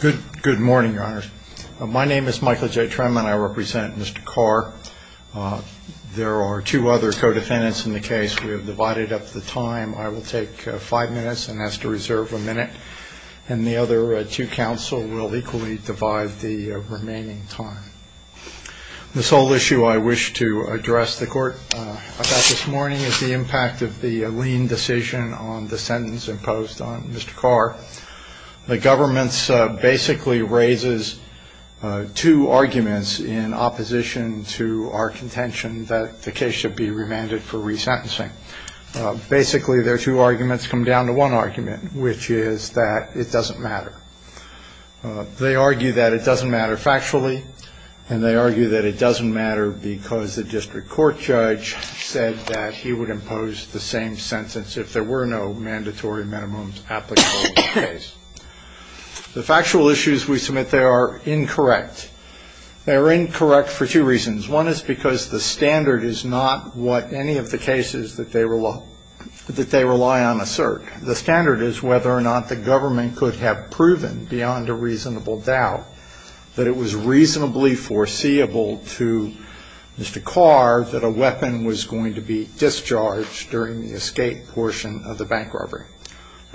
Good morning, your honors. My name is Michael J. Tremann. I represent Mr. Carr. There are two other co-defendants in the case. We have divided up the time. I will take five minutes and ask to reserve a minute. And the other two counsel will equally divide the remaining time. This whole issue I wish to address the court about this morning is the impact of the lean decision on the sentence imposed on Mr. Carr. The government basically raises two arguments in opposition to our contention that the case should be remanded for resentencing. Basically, their two arguments come down to one argument, which is that it doesn't matter. They argue that it doesn't matter factually, and they argue that it doesn't matter because the district court judge said that he would impose the same sentence if there were no mandatory minimums applicable to the case. The factual issues we submit, they are incorrect. They are incorrect for two reasons. One is because the standard is not what any of the cases that they rely on assert. The standard is whether or not the government could have proven beyond a reasonable doubt that it was reasonably foreseeable to Mr. Carr that a weapon was going to be discharged during the escape portion of the bank robbery.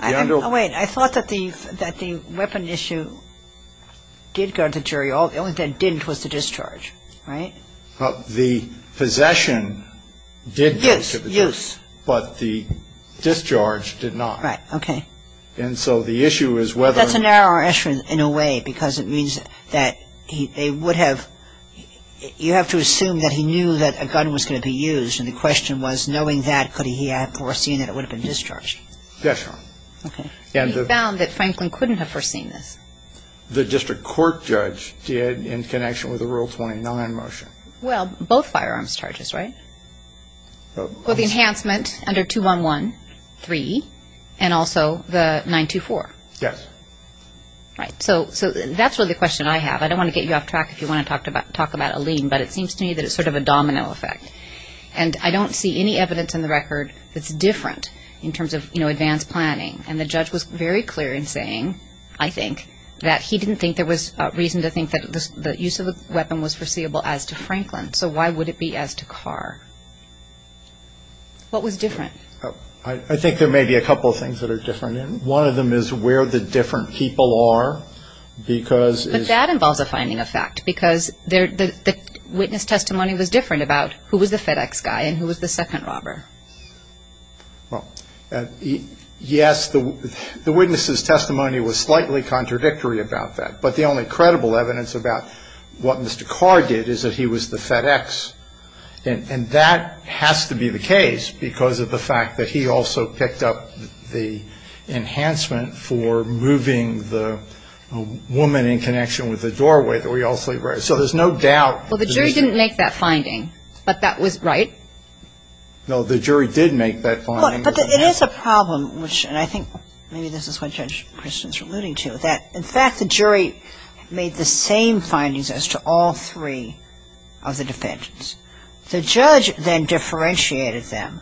I thought that the weapon issue did go to the jury. The only thing that didn't was the discharge, right? Well, the possession did go to the jury. Use. Use. But the discharge did not. Right. Okay. And so the issue is whether or not. That's a narrower issue in a way because it means that they would have, you have to assume that he knew that a gun was going to be used. And the question was, knowing that, could he have foreseen that it would have been discharged? Yes, Your Honor. Okay. He found that Franklin couldn't have foreseen this. The district court judge did in connection with the Rule 29 motion. Well, both firearms charges, right? Well, the enhancement under 211-3 and also the 924. Yes. Right. So that's really the question I have. I don't want to get you off track if you want to talk about a lien, but it seems to me that it's sort of a domino effect. And I don't see any evidence in the record that's different in terms of, you know, advanced planning. And the judge was very clear in saying, I think, that he didn't think there was reason to think that the use of the weapon was foreseeable as to Franklin. So why would it be as to Carr? What was different? I think there may be a couple of things that are different. One of them is where the different people are because. But that involves a finding of fact because the witness testimony was different about who was the FedEx guy and who was the second robber. Well, yes, the witness's testimony was slightly contradictory about that. But the only credible evidence about what Mr. Carr did is that he was the FedEx. And that has to be the case because of the fact that he also picked up the enhancement for moving the woman in connection with the doorway that we all sleep with. So there's no doubt. Well, the jury didn't make that finding, but that was right. No, the jury did make that finding. But it is a problem, which, and I think maybe this is what Judge Christian is alluding to, that, in fact, the jury made the same findings as to all three of the defendants. The judge then differentiated them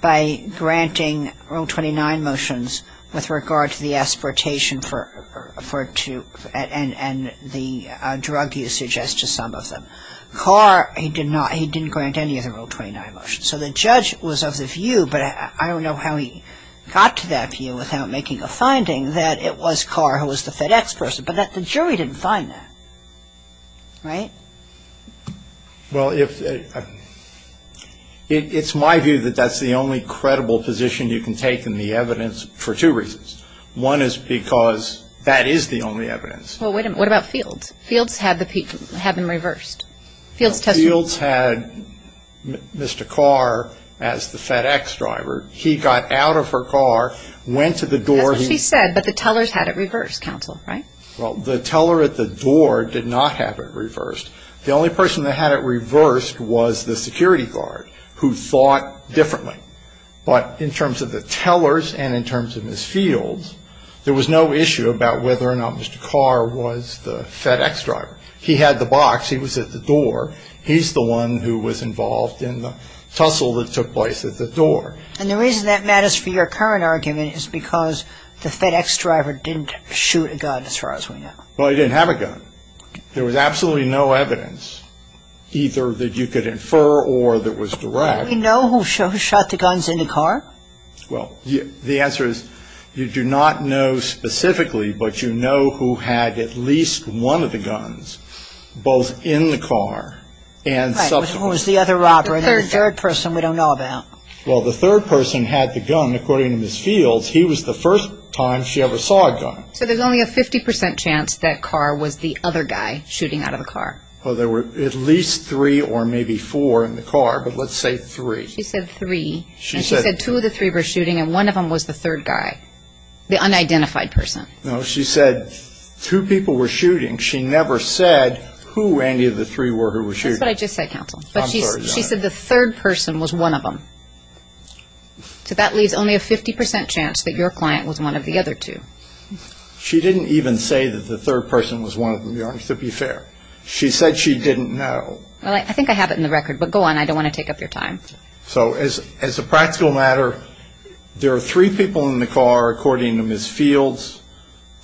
by granting Rule 29 motions with regard to the aspiratation and the drug usage as to some of them. Carr, he didn't grant any of the Rule 29 motions. So the judge was of the view, but I don't know how he got to that view without making a finding, that it was Carr who was the FedEx person. But the jury didn't find that. Right? Well, it's my view that that's the only credible position you can take in the evidence for two reasons. One is because that is the only evidence. Well, wait a minute. What about Fields? Fields had them reversed. Fields had Mr. Carr as the FedEx driver. He got out of her car, went to the door. That's what she said, but the tellers had it reversed, counsel. Right? Well, the teller at the door did not have it reversed. The only person that had it reversed was the security guard, who thought differently. But in terms of the tellers and in terms of Ms. Fields, there was no issue about whether or not Mr. Carr was the FedEx driver. He had the box. He was at the door. He's the one who was involved in the tussle that took place at the door. And the reason that matters for your current argument is because the FedEx driver didn't shoot a gun, as far as we know. Well, he didn't have a gun. There was absolutely no evidence, either that you could infer or that was direct. Do we know who shot the guns in the car? Well, the answer is you do not know specifically, but you know who had at least one of the guns, both in the car and subsequently. Right. Who was the other robber? The third person we don't know about. Well, the third person had the gun. According to Ms. Fields, he was the first time she ever saw a gun. So there's only a 50 percent chance that Carr was the other guy shooting out of the car. Well, there were at least three or maybe four in the car, but let's say three. She said three. And she said two of the three were shooting, and one of them was the third guy, the unidentified person. No, she said two people were shooting. She never said who any of the three were who were shooting. That's what I just said, counsel. I'm sorry, Your Honor. But she said the third person was one of them. So that leaves only a 50 percent chance that your client was one of the other two. She didn't even say that the third person was one of them, Your Honor, to be fair. She said she didn't know. Well, I think I have it in the record, but go on. I don't want to take up your time. So as a practical matter, there are three people in the car, according to Ms. Fields.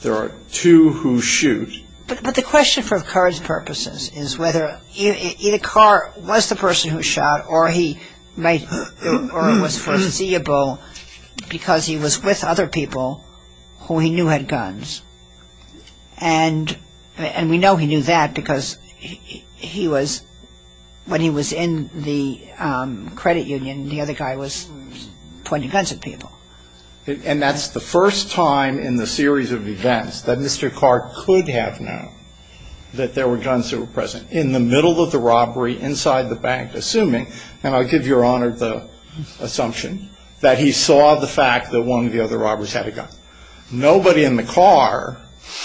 There are two who shoot. But the question for Carr's purposes is whether either Carr was the person who shot or he was foreseeable because he was with other people who he knew had guns. And we know he knew that because he was, when he was in the credit union, the other guy was pointing guns at people. And that's the first time in the series of events that Mr. Carr could have known that there were guns that were present in the middle of the robbery inside the bank, assuming, and I'll give Your Honor the assumption, that he saw the fact that one of the other robbers had a gun. Nobody in the car,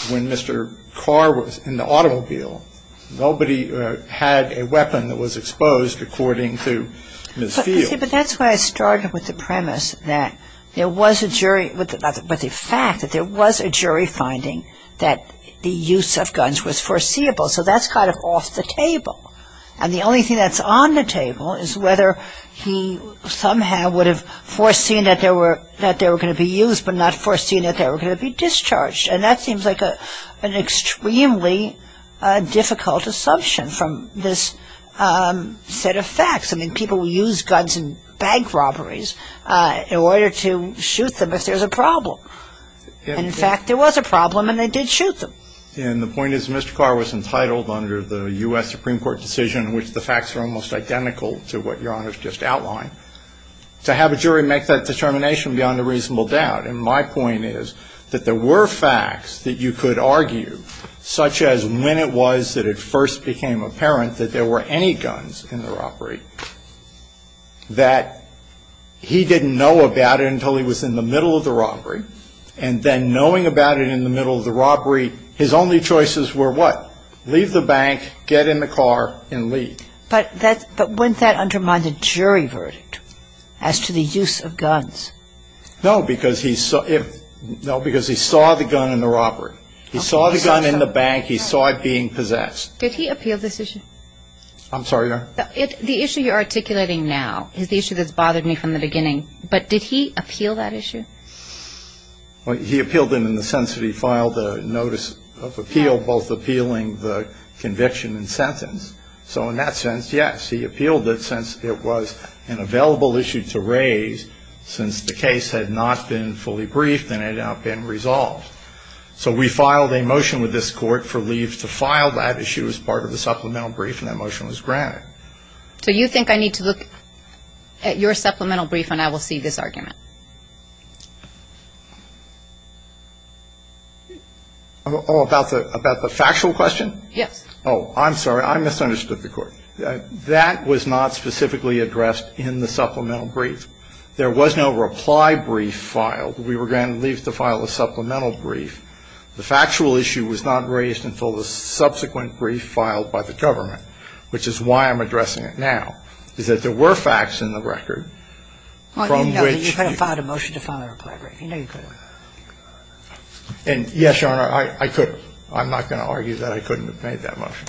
when Mr. Carr was in the automobile, nobody had a weapon that was exposed, according to Ms. Fields. But that's why I started with the premise that there was a jury, but the fact that there was a jury finding that the use of guns was foreseeable. So that's kind of off the table. And the only thing that's on the table is whether he somehow would have foreseen that they were going to be used but not foreseen that they were going to be discharged. And that seems like an extremely difficult assumption from this set of facts. I mean, people will use guns in bank robberies in order to shoot them if there's a problem. And, in fact, there was a problem and they did shoot them. And the point is Mr. Carr was entitled under the U.S. Supreme Court decision, which the facts are almost identical to what Your Honor has just outlined, to have a jury make that determination beyond a reasonable doubt. And my point is that there were facts that you could argue, such as when it was that it first became apparent that there were any guns in the robbery, that he didn't know about it until he was in the middle of the robbery, and then knowing about it in the middle of the robbery, his only choices were what? Leave the bank, get in the car, and leave. But wouldn't that undermine the jury verdict as to the use of guns? No, because he saw the gun in the robbery. He saw the gun in the bank. He saw it being possessed. Did he appeal this issue? I'm sorry, Your Honor? The issue you're articulating now is the issue that's bothered me from the beginning. But did he appeal that issue? He appealed it in the sense that he filed a notice of appeal, both appealing the conviction and sentence. So in that sense, yes, he appealed it since it was an available issue to raise since the case had not been fully briefed and had not been resolved. So we filed a motion with this Court for leaves to file that issue as part of the supplemental brief, and that motion was granted. So you think I need to look at your supplemental brief and I will see this argument? Oh, about the factual question? Yes. Oh, I'm sorry. I misunderstood the Court. That was not specifically addressed in the supplemental brief. There was no reply brief filed. We were granted leaves to file a supplemental brief. The factual issue was not raised until the subsequent brief filed by the government, which is why I'm addressing it now, is that there were facts in the record from which you could have filed a motion to file a reply brief. You know you could have. And, yes, Your Honor, I could have. I'm not going to argue that I couldn't have made that motion.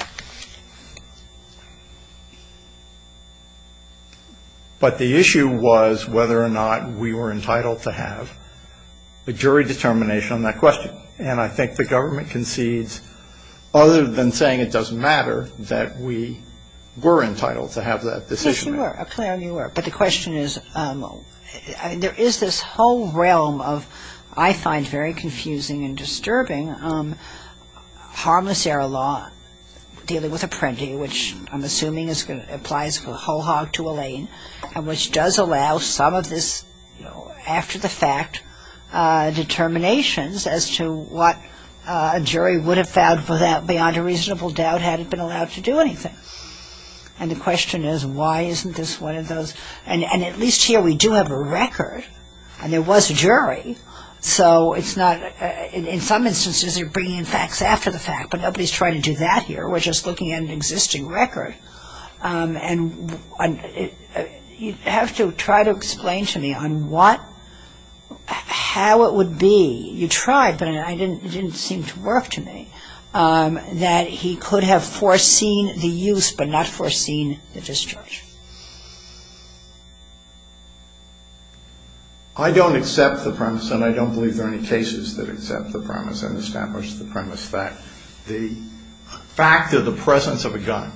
But the issue was whether or not we were entitled to have a jury determination on that question. And I think the government concedes, other than saying it doesn't matter, that we were entitled to have that decision made. Yes, you were. Clearly you were. But the question is, there is this whole realm of, I find very confusing and disturbing, harmless error law dealing with a prentee, which I'm assuming applies from a whole hog to a lane, and which does allow some of this after-the-fact determinations as to what a jury would have found beyond a reasonable doubt had it been allowed to do anything. And the question is, why isn't this one of those? And at least here we do have a record. And there was a jury. So it's not, in some instances you're bringing in facts after the fact. But nobody's trying to do that here. We're just looking at an existing record. And you have to try to explain to me on what, how it would be, you tried, but it didn't seem to work to me, that he could have foreseen the use but not foreseen the discharge. I don't accept the premise, and I don't believe there are any cases that accept the premise and establish the premise that the fact of the presence of a gun,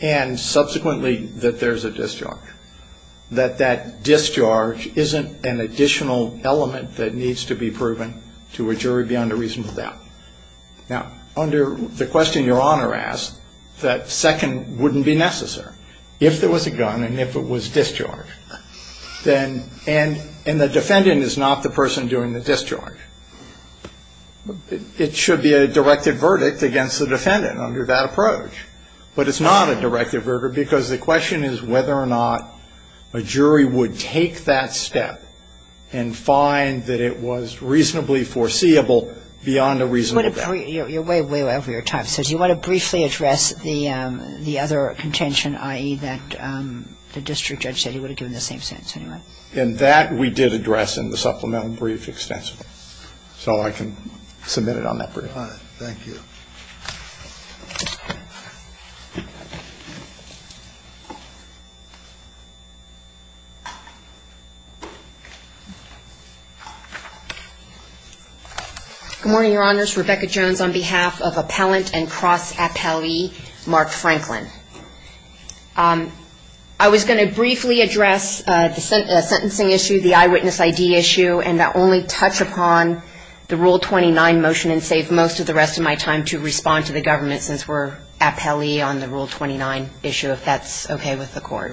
and subsequently that there's a discharge, that that discharge isn't an additional element that needs to be proven to a jury beyond a reasonable doubt. Now, under the question Your Honor asked, that second wouldn't be necessary. If there was a gun and if it was discharged, then, and the defendant is not the person doing the discharge. It should be a directed verdict against the defendant under that approach. But it's not a directed verdict because the question is whether or not a jury would take that step and find that it was reasonably foreseeable beyond a reasonable doubt. You're way, way over your time. So do you want to briefly address the other contention, i.e., that the district judge said he would have given the same sentence anyway? And that we did address in the supplemental brief extensively. So I can submit it on that brief. All right. Thank you. Good morning, Your Honors. Rebecca Jones on behalf of Appellant and Cross Appellee Mark Franklin. I was going to briefly address the sentencing issue, the eyewitness ID issue, and only touch upon the Rule 29 motion and save most of the rest of my time to respond to the government since we're appellee on the Rule 29 issue, if that's okay with the court.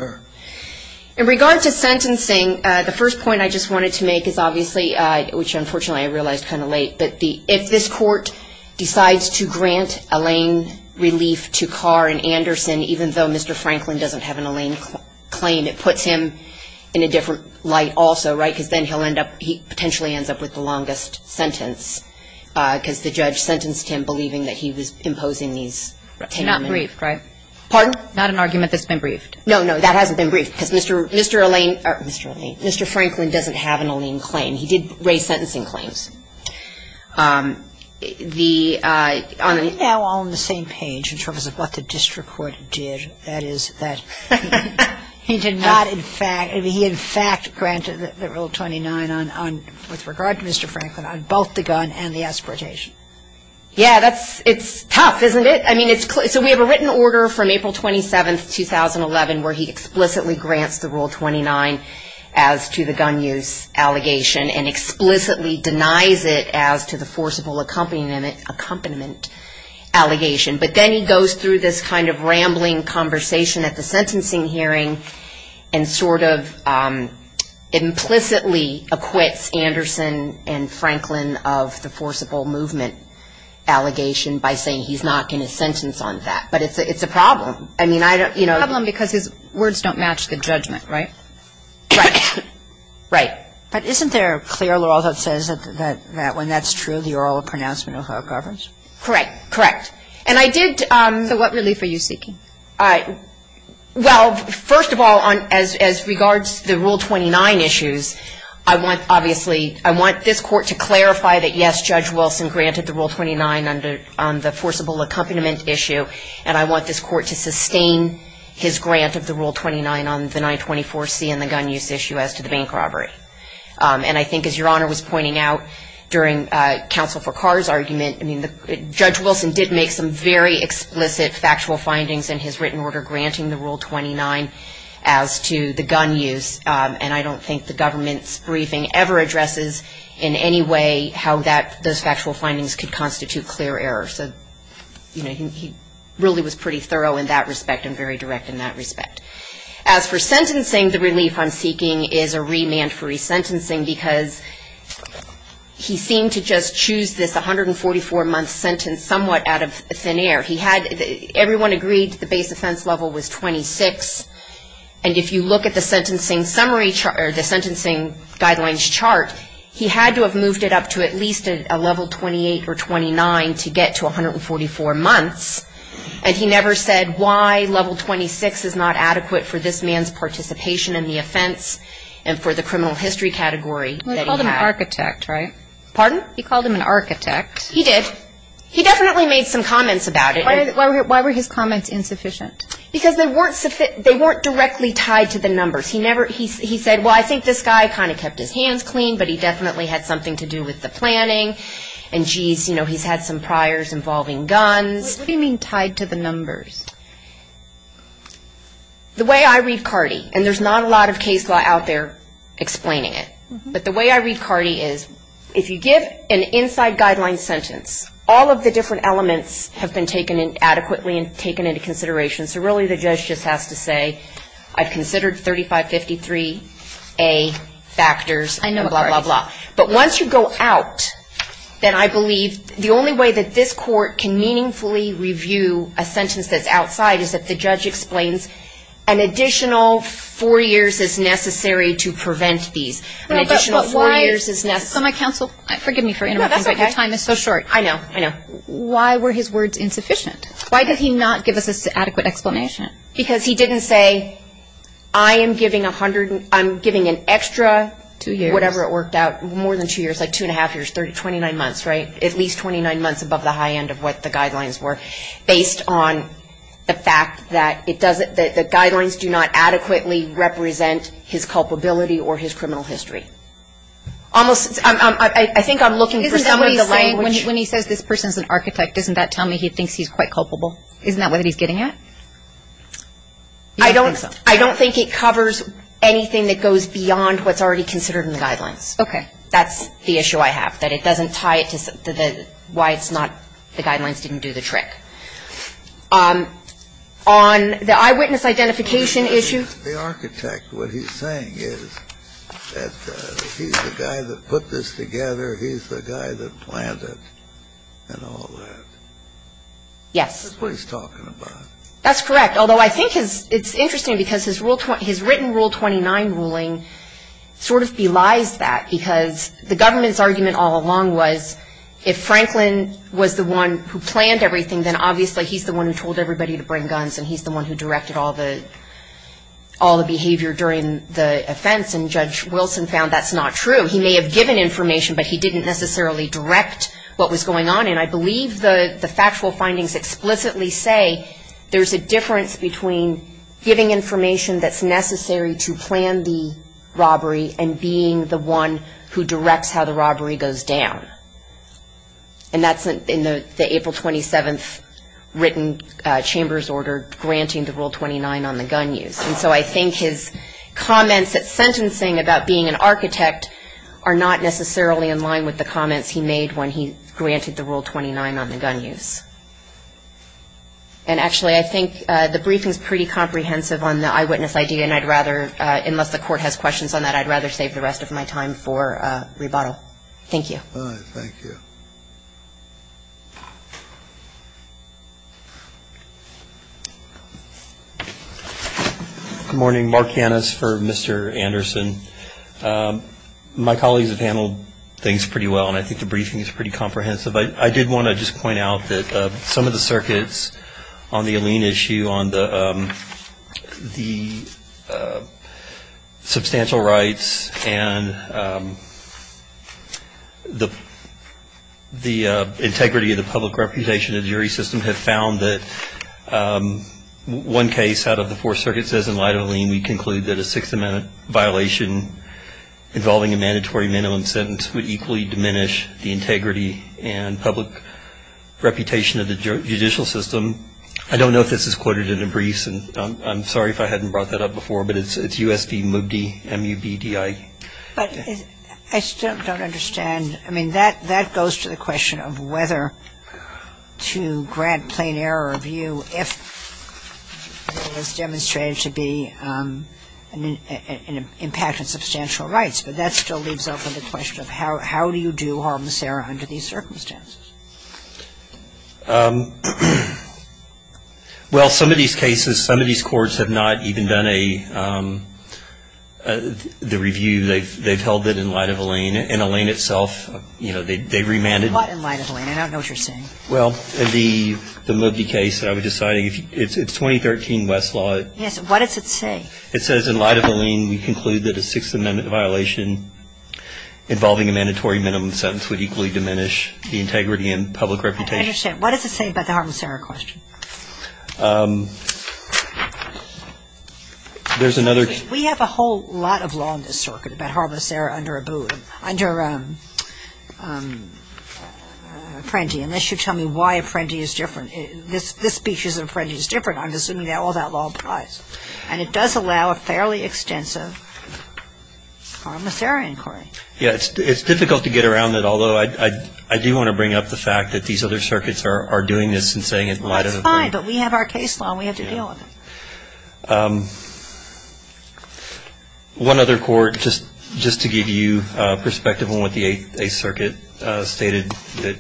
In regard to sentencing, the first point I just wanted to make is obviously, which unfortunately I realized kind of late, but if this court decides to grant a lane relief to Carr and Anderson, even though Mr. Franklin doesn't have an lane claim, it puts him in a different light also, right? Because then he'll end up he potentially ends up with the longest sentence because the judge sentenced him believing that he was imposing these ten minutes. He's not briefed, right? Pardon? Not an argument that's been briefed. No, no. That hasn't been briefed because Mr. Lane or Mr. Lane. Mr. Franklin doesn't have an lane claim. He did raise sentencing claims. The on the. They're all on the same page in terms of what the district court did. That is that. He did not. In fact, he in fact granted the rule 29 on with regard to Mr. Franklin on both the gun and the exportation. Yeah, that's it's tough, isn't it? I mean, it's so we have a written order from April 27th, 2011, where he explicitly grants the rule 29 as to the gun use allegation and explicitly denies it as to the forcible accompaniment allegation. But then he goes through this kind of rambling conversation at the sentencing hearing and sort of implicitly acquits Anderson and Franklin of the forcible movement allegation by saying he's not going to sentence on that. But it's a problem. I mean, I don't, you know. It's a problem because his words don't match the judgment, right? Right. Right. But isn't there a clear law that says that when that's true, the oral pronouncement of that governs? Correct. Correct. And I did. So what relief are you seeking? Well, first of all, as regards to the Rule 29 issues, I want, obviously, I want this Court to clarify that, yes, Judge Wilson granted the Rule 29 on the forcible accompaniment issue, and I want this Court to sustain his grant of the Rule 29 on the 924C and the gun use issue as to the bank robbery. And I think, as Your Honor was pointing out during Counsel for Carr's argument, I mean, Judge Wilson did make some very explicit factual findings in his written order granting the Rule 29 as to the gun use, and I don't think the government's briefing ever addresses in any way how that, those factual findings could constitute clear error. So, you know, he really was pretty thorough in that respect and very direct in that respect. As for sentencing, the relief I'm seeking is a remand for resentencing because he seemed to just choose this 144-month sentence somewhat out of thin air. He had, everyone agreed the base offense level was 26, and if you look at the sentencing summary, or the sentencing guidelines chart, he had to have moved it up to at least a level 28 or 29 to get to 144 months, and he never said why level 26 is not adequate for this man's participation in the offense and for the criminal history category that he had. He called him an architect, right? Pardon? He called him an architect. He did. He definitely made some comments about it. Why were his comments insufficient? Because they weren't directly tied to the numbers. He said, well, I think this guy kind of kept his hands clean, but he definitely had something to do with the planning, and, jeez, you know, he's had some priors involving guns. What do you mean tied to the numbers? The way I read CARDI, and there's not a lot of case law out there explaining it, but the way I read CARDI is if you give an inside guideline sentence, all of the different elements have been taken adequately and taken into consideration, so really the judge just has to say, I've considered 3553A factors and blah, blah, blah. But once you go out, then I believe the only way that this court can meaningfully review a sentence that's outside is if the judge explains an additional four years is necessary to prevent these. An additional four years is necessary. So my counsel, forgive me for interrupting, but your time is so short. I know, I know. Why were his words insufficient? Why did he not give us an adequate explanation? Because he didn't say, I am giving an extra two years, whatever it worked out, more than two years, like two and a half years, 29 months, right, at least 29 months above the high end of what the guidelines were based on the fact that it doesn't, that the guidelines do not adequately represent his culpability or his criminal history. Almost, I think I'm looking for some of the language. When he says this person's an architect, doesn't that tell me he thinks he's quite culpable? Isn't that what he's getting at? I don't think it covers anything that goes beyond what's already considered in the guidelines. Okay. That's the issue I have, that it doesn't tie it to why it's not, the guidelines didn't do the trick. On the eyewitness identification issue. The architect, what he's saying is that he's the guy that put this together. He's the guy that planned it and all that. Yes. That's what he's talking about. That's correct. It's interesting because his written Rule 29 ruling sort of belies that, because the government's argument all along was if Franklin was the one who planned everything, then obviously he's the one who told everybody to bring guns, and he's the one who directed all the behavior during the offense. And Judge Wilson found that's not true. He may have given information, but he didn't necessarily direct what was going on. And I believe the factual findings explicitly say there's a difference between giving information that's necessary to plan the robbery and being the one who directs how the robbery goes down. And that's in the April 27th written chamber's order granting the Rule 29 on the gun use. And so I think his comments at sentencing about being an architect are not necessarily in line with the comments he made when he granted the Rule 29 on the gun use. And actually, I think the briefing's pretty comprehensive on the eyewitness idea, and I'd rather, unless the court has questions on that, I'd rather save the rest of my time for rebuttal. Thank you. All right. Thank you. Good morning. Mark Yanis for Mr. Anderson. My colleagues have handled things pretty well, and I think the briefing is pretty comprehensive. I did want to just point out that some of the circuits on the Alene issue on the substantial rights and the integrity of the public reputation of the jury system have found that one case out of the four circuits as in light of Alene, we conclude that a sixth-amendment violation involving a mandatory minimum sentence would equally diminish the integrity and public reputation of the judicial system. I don't know if this is quoted in the briefs, and I'm sorry if I hadn't brought that up before, but it's U.S. v. Mubdi, M-U-B-D-I. But I still don't understand. I mean, that goes to the question of whether to grant plain error of view if it was demonstrated to be an impact on substantial rights, but that still leaves open the question of how do you do harm to Sarah under these circumstances? Well, some of these cases, some of these courts have not even done the review. They've held it in light of Alene, and Alene itself, you know, they remanded. What in light of Alene? I don't know what you're saying. Well, the Mubdi case that I was just citing, it's 2013 Westlaw. Yes, what does it say? It says in light of Alene, we conclude that a sixth-amendment violation involving a mandatory minimum sentence would equally diminish the integrity and public reputation. I understand. What does it say about the harm to Sarah question? There's another. We have a whole lot of law in this circuit about harm to Sarah under Apprendi, unless you tell me why Apprendi is different. This speech is in Apprendi is different. I'm assuming all that law applies. And it does allow a fairly extensive harm to Sarah inquiry. Yes. It's difficult to get around it, although I do want to bring up the fact that these other circuits are doing this and saying it might have been. That's fine. But we have our case law, and we have to deal with it. One other court, just to give you perspective on what the Eighth Circuit stated, that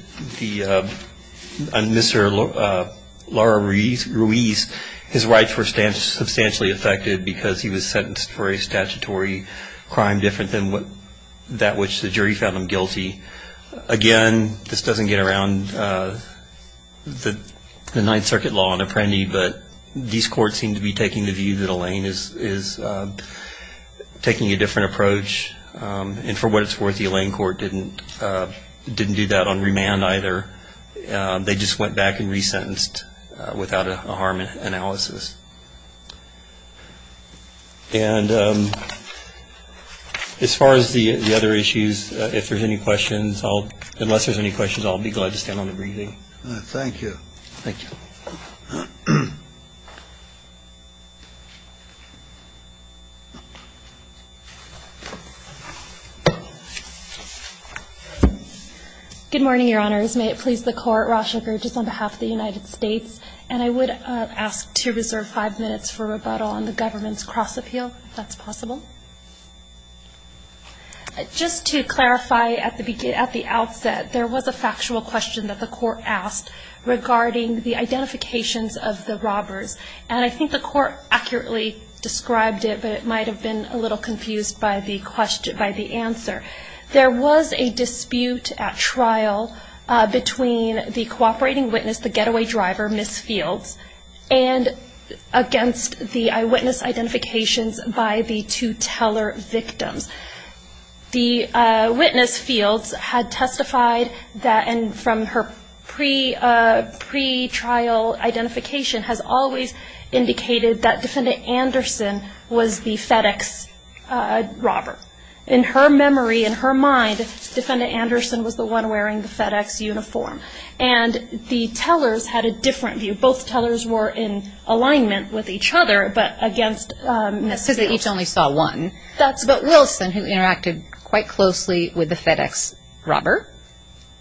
Mr. Laura Ruiz, his rights were substantially affected because he was sentenced for a statutory crime different than that which the jury found him guilty. Again, this doesn't get around the Ninth Circuit law in Apprendi, but these courts seem to be taking the view that Elaine is taking a different approach. And for what it's worth, the Elaine court didn't do that on remand either. They just went back and resentenced without a harm analysis. And as far as the other issues, if there's any questions, unless there's any questions, I'll be glad to stand on the briefing. Thank you. Thank you. Good morning, Your Honors. May it please the Court. Rasha Gerges on behalf of the United States. And I would ask to reserve five minutes for rebuttal on the government's cross-appeal, if that's possible. Just to clarify at the outset, there was a factual question that the Court asked regarding the identifications of the robbers. And I think the Court accurately described it, but it might have been a little confused by the answer. There was a dispute at trial between the cooperating witness, the getaway driver, Ms. Fields, and against the eyewitness identifications by the two teller victims. The witness, Fields, had testified that, and from her pretrial identification, has always indicated that Defendant Anderson was the FedEx robber. In her memory, in her mind, Defendant Anderson was the one wearing the FedEx uniform. And the tellers had a different view. Both tellers were in alignment with each other, but against Ms. Fields. That's because they each only saw one. But Wilson, who interacted quite closely with the FedEx robber,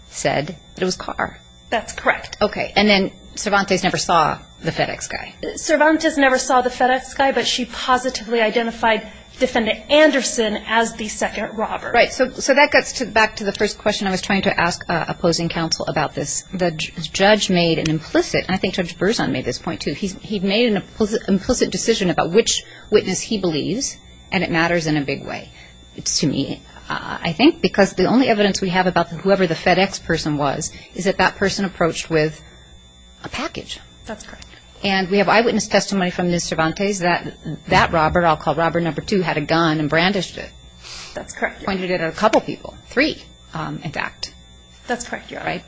said that it was Carr. That's correct. Okay. And then Cervantes never saw the FedEx guy. Cervantes never saw the FedEx guy, but she positively identified Defendant Anderson as the second robber. Right. So that gets back to the first question I was trying to ask opposing counsel about this. The judge made an implicit, and I think Judge Berzon made this point too, he made an implicit decision about which witness he believes, and it matters in a big way. It's to me, I think, because the only evidence we have about whoever the FedEx person was is that that person approached with a package. That's correct. And we have eyewitness testimony from Ms. Cervantes that that robber, I'll call robber number two, had a gun and brandished it. That's correct. Pointed it at a couple people, three, in fact. That's correct. Right?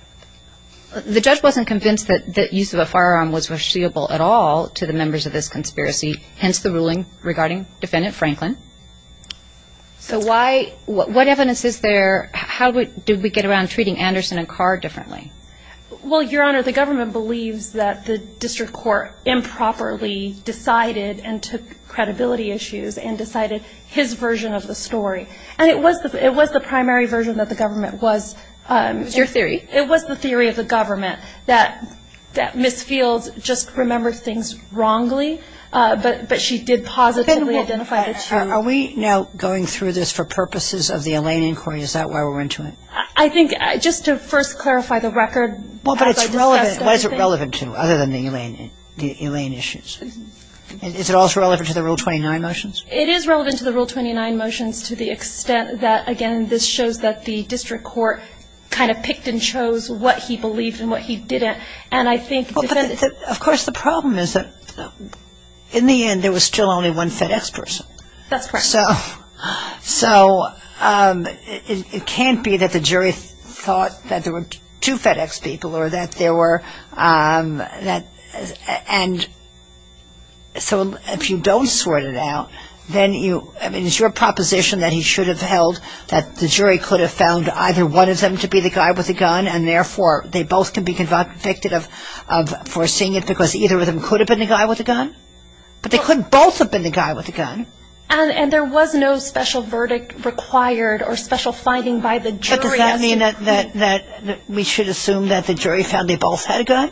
The judge wasn't convinced that use of a firearm was foreseeable at all to the members of this conspiracy, hence the ruling regarding Defendant Franklin. So why, what evidence is there, how did we get around treating Anderson and Carr differently? Well, Your Honor, the government believes that the district court improperly decided and took credibility issues and decided his version of the story. And it was the primary version that the government was. It was your theory. It was the theory of the government that Ms. Fields just remembered things wrongly, but she did positively identify the truth. Are we now going through this for purposes of the Elaine inquiry? Is that why we're into it? I think just to first clarify the record. Well, but it's relevant. What is it relevant to other than the Elaine issues? Is it also relevant to the Rule 29 motions? It is relevant to the Rule 29 motions to the extent that, again, this shows that the district court kind of picked and chose what he believed and what he didn't. And I think defendants. Well, but of course the problem is that in the end there was still only one FedEx person. That's correct. So it can't be that the jury thought that there were two FedEx people or that there were, and so if you don't sort it out, then you, I mean, is your proposition that he should have held that the jury could have found either one of them to be the guy with the gun and, therefore, they both can be convicted of foreseeing it because either of them could have been the guy with the gun? But they couldn't both have been the guy with the gun. And there was no special verdict required or special finding by the jury. But does that mean that we should assume that the jury found they both had a gun?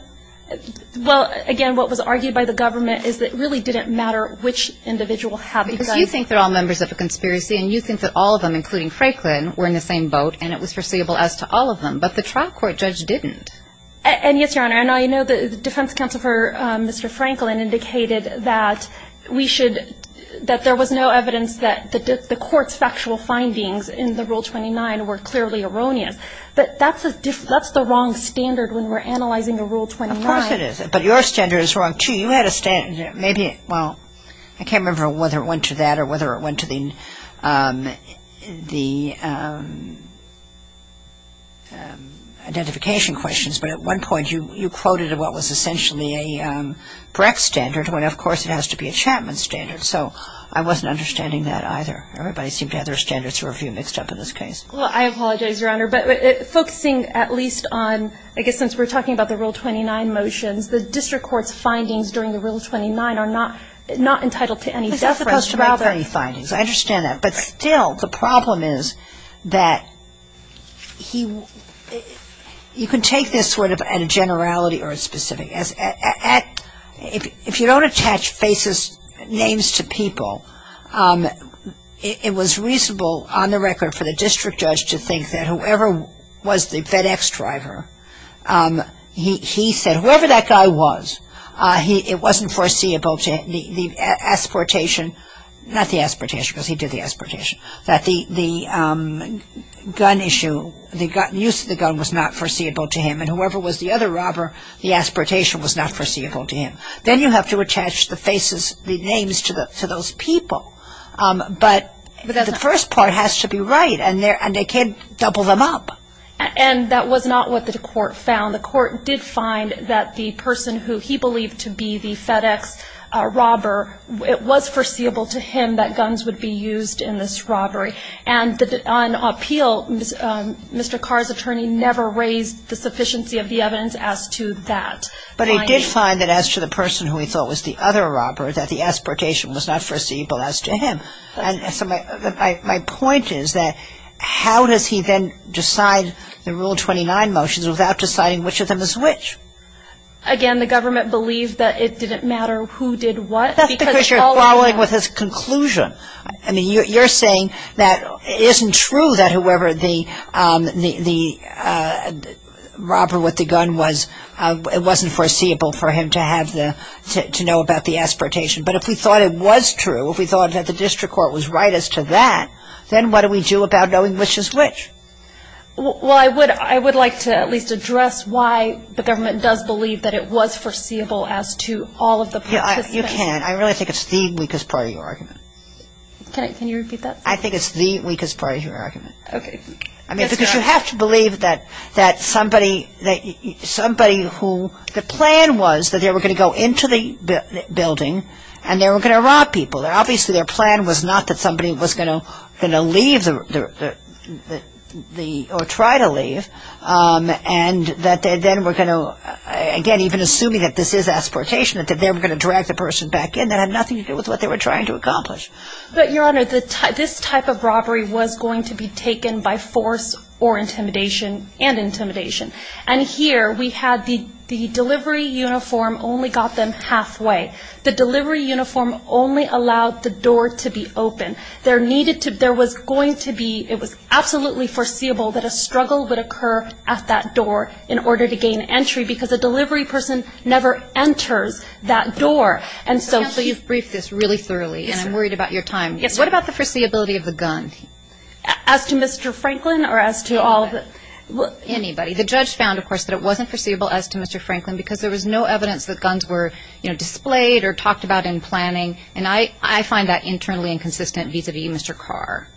Well, again, what was argued by the government is that it really didn't matter which individual had the gun. Because you think they're all members of a conspiracy, and you think that all of them, including Franklin, were in the same boat, and it was foreseeable as to all of them. But the trial court judge didn't. And, yes, Your Honor, I know the defense counsel for Mr. Franklin indicated that we should, that there was no evidence that the court's factual findings in the Rule 29 were clearly erroneous. But that's the wrong standard when we're analyzing a Rule 29. Of course it is. But your standard is wrong, too. Well, I can't remember whether it went to that or whether it went to the identification questions. But at one point you quoted what was essentially a Brecht standard, when, of course, it has to be a Chapman standard. So I wasn't understanding that either. Everybody seemed to have their standards mixed up in this case. Well, I apologize, Your Honor. But focusing at least on, I guess, since we're talking about the Rule 29 motions, the district court's findings during the Rule 29 are not entitled to any deference. It's not supposed to make any findings. I understand that. But still, the problem is that he, you can take this sort of at a generality or a specific. If you don't attach basis names to people, it was reasonable on the record for the district judge to think that whoever was the FedEx driver, he said whoever that guy was, it wasn't foreseeable to him. The asportation, not the asportation because he did the asportation, that the gun issue, the use of the gun was not foreseeable to him. And whoever was the other robber, the asportation was not foreseeable to him. Then you have to attach the faces, the names to those people. But the first part has to be right. And they can't double them up. And that was not what the court found. The court did find that the person who he believed to be the FedEx robber, it was foreseeable to him that guns would be used in this robbery. And on appeal, Mr. Carr's attorney never raised the sufficiency of the evidence as to that. But he did find that as to the person who he thought was the other robber, that the asportation was not foreseeable as to him. And so my point is that how does he then decide the Rule 29 motions without deciding which of them is which? Again, the government believed that it didn't matter who did what. That's because you're following with his conclusion. I mean, you're saying that it isn't true that whoever the robber with the gun was, it wasn't foreseeable for him to know about the asportation. But if we thought it was true, if we thought that the district court was right as to that, then what do we do about knowing which is which? Well, I would like to at least address why the government does believe that it was foreseeable as to all of the participants. You can't. I really think it's the weakest part of your argument. Can you repeat that? I think it's the weakest part of your argument. Okay. I mean, because you have to believe that somebody who the plan was that they were going to go into the building and they were going to rob people. Obviously, their plan was not that somebody was going to leave or try to leave and that they then were going to, again, even assuming that this is asportation, that they were going to drag the person back in. That had nothing to do with what they were trying to accomplish. But, Your Honor, this type of robbery was going to be taken by force or intimidation and intimidation. And here we had the delivery uniform only got them halfway. The delivery uniform only allowed the door to be open. There was going to be, it was absolutely foreseeable that a struggle would occur at that door in order to gain entry because a delivery person never enters that door. Counsel, you've briefed this really thoroughly, and I'm worried about your time. Yes, Your Honor. What about the foreseeability of the gun? As to Mr. Franklin or as to all of the? Anybody. The judge found, of course, that it wasn't foreseeable as to Mr. Franklin because there was no evidence that guns were displayed or talked about in planning. And I find that internally inconsistent vis-a-vis Mr. Carr.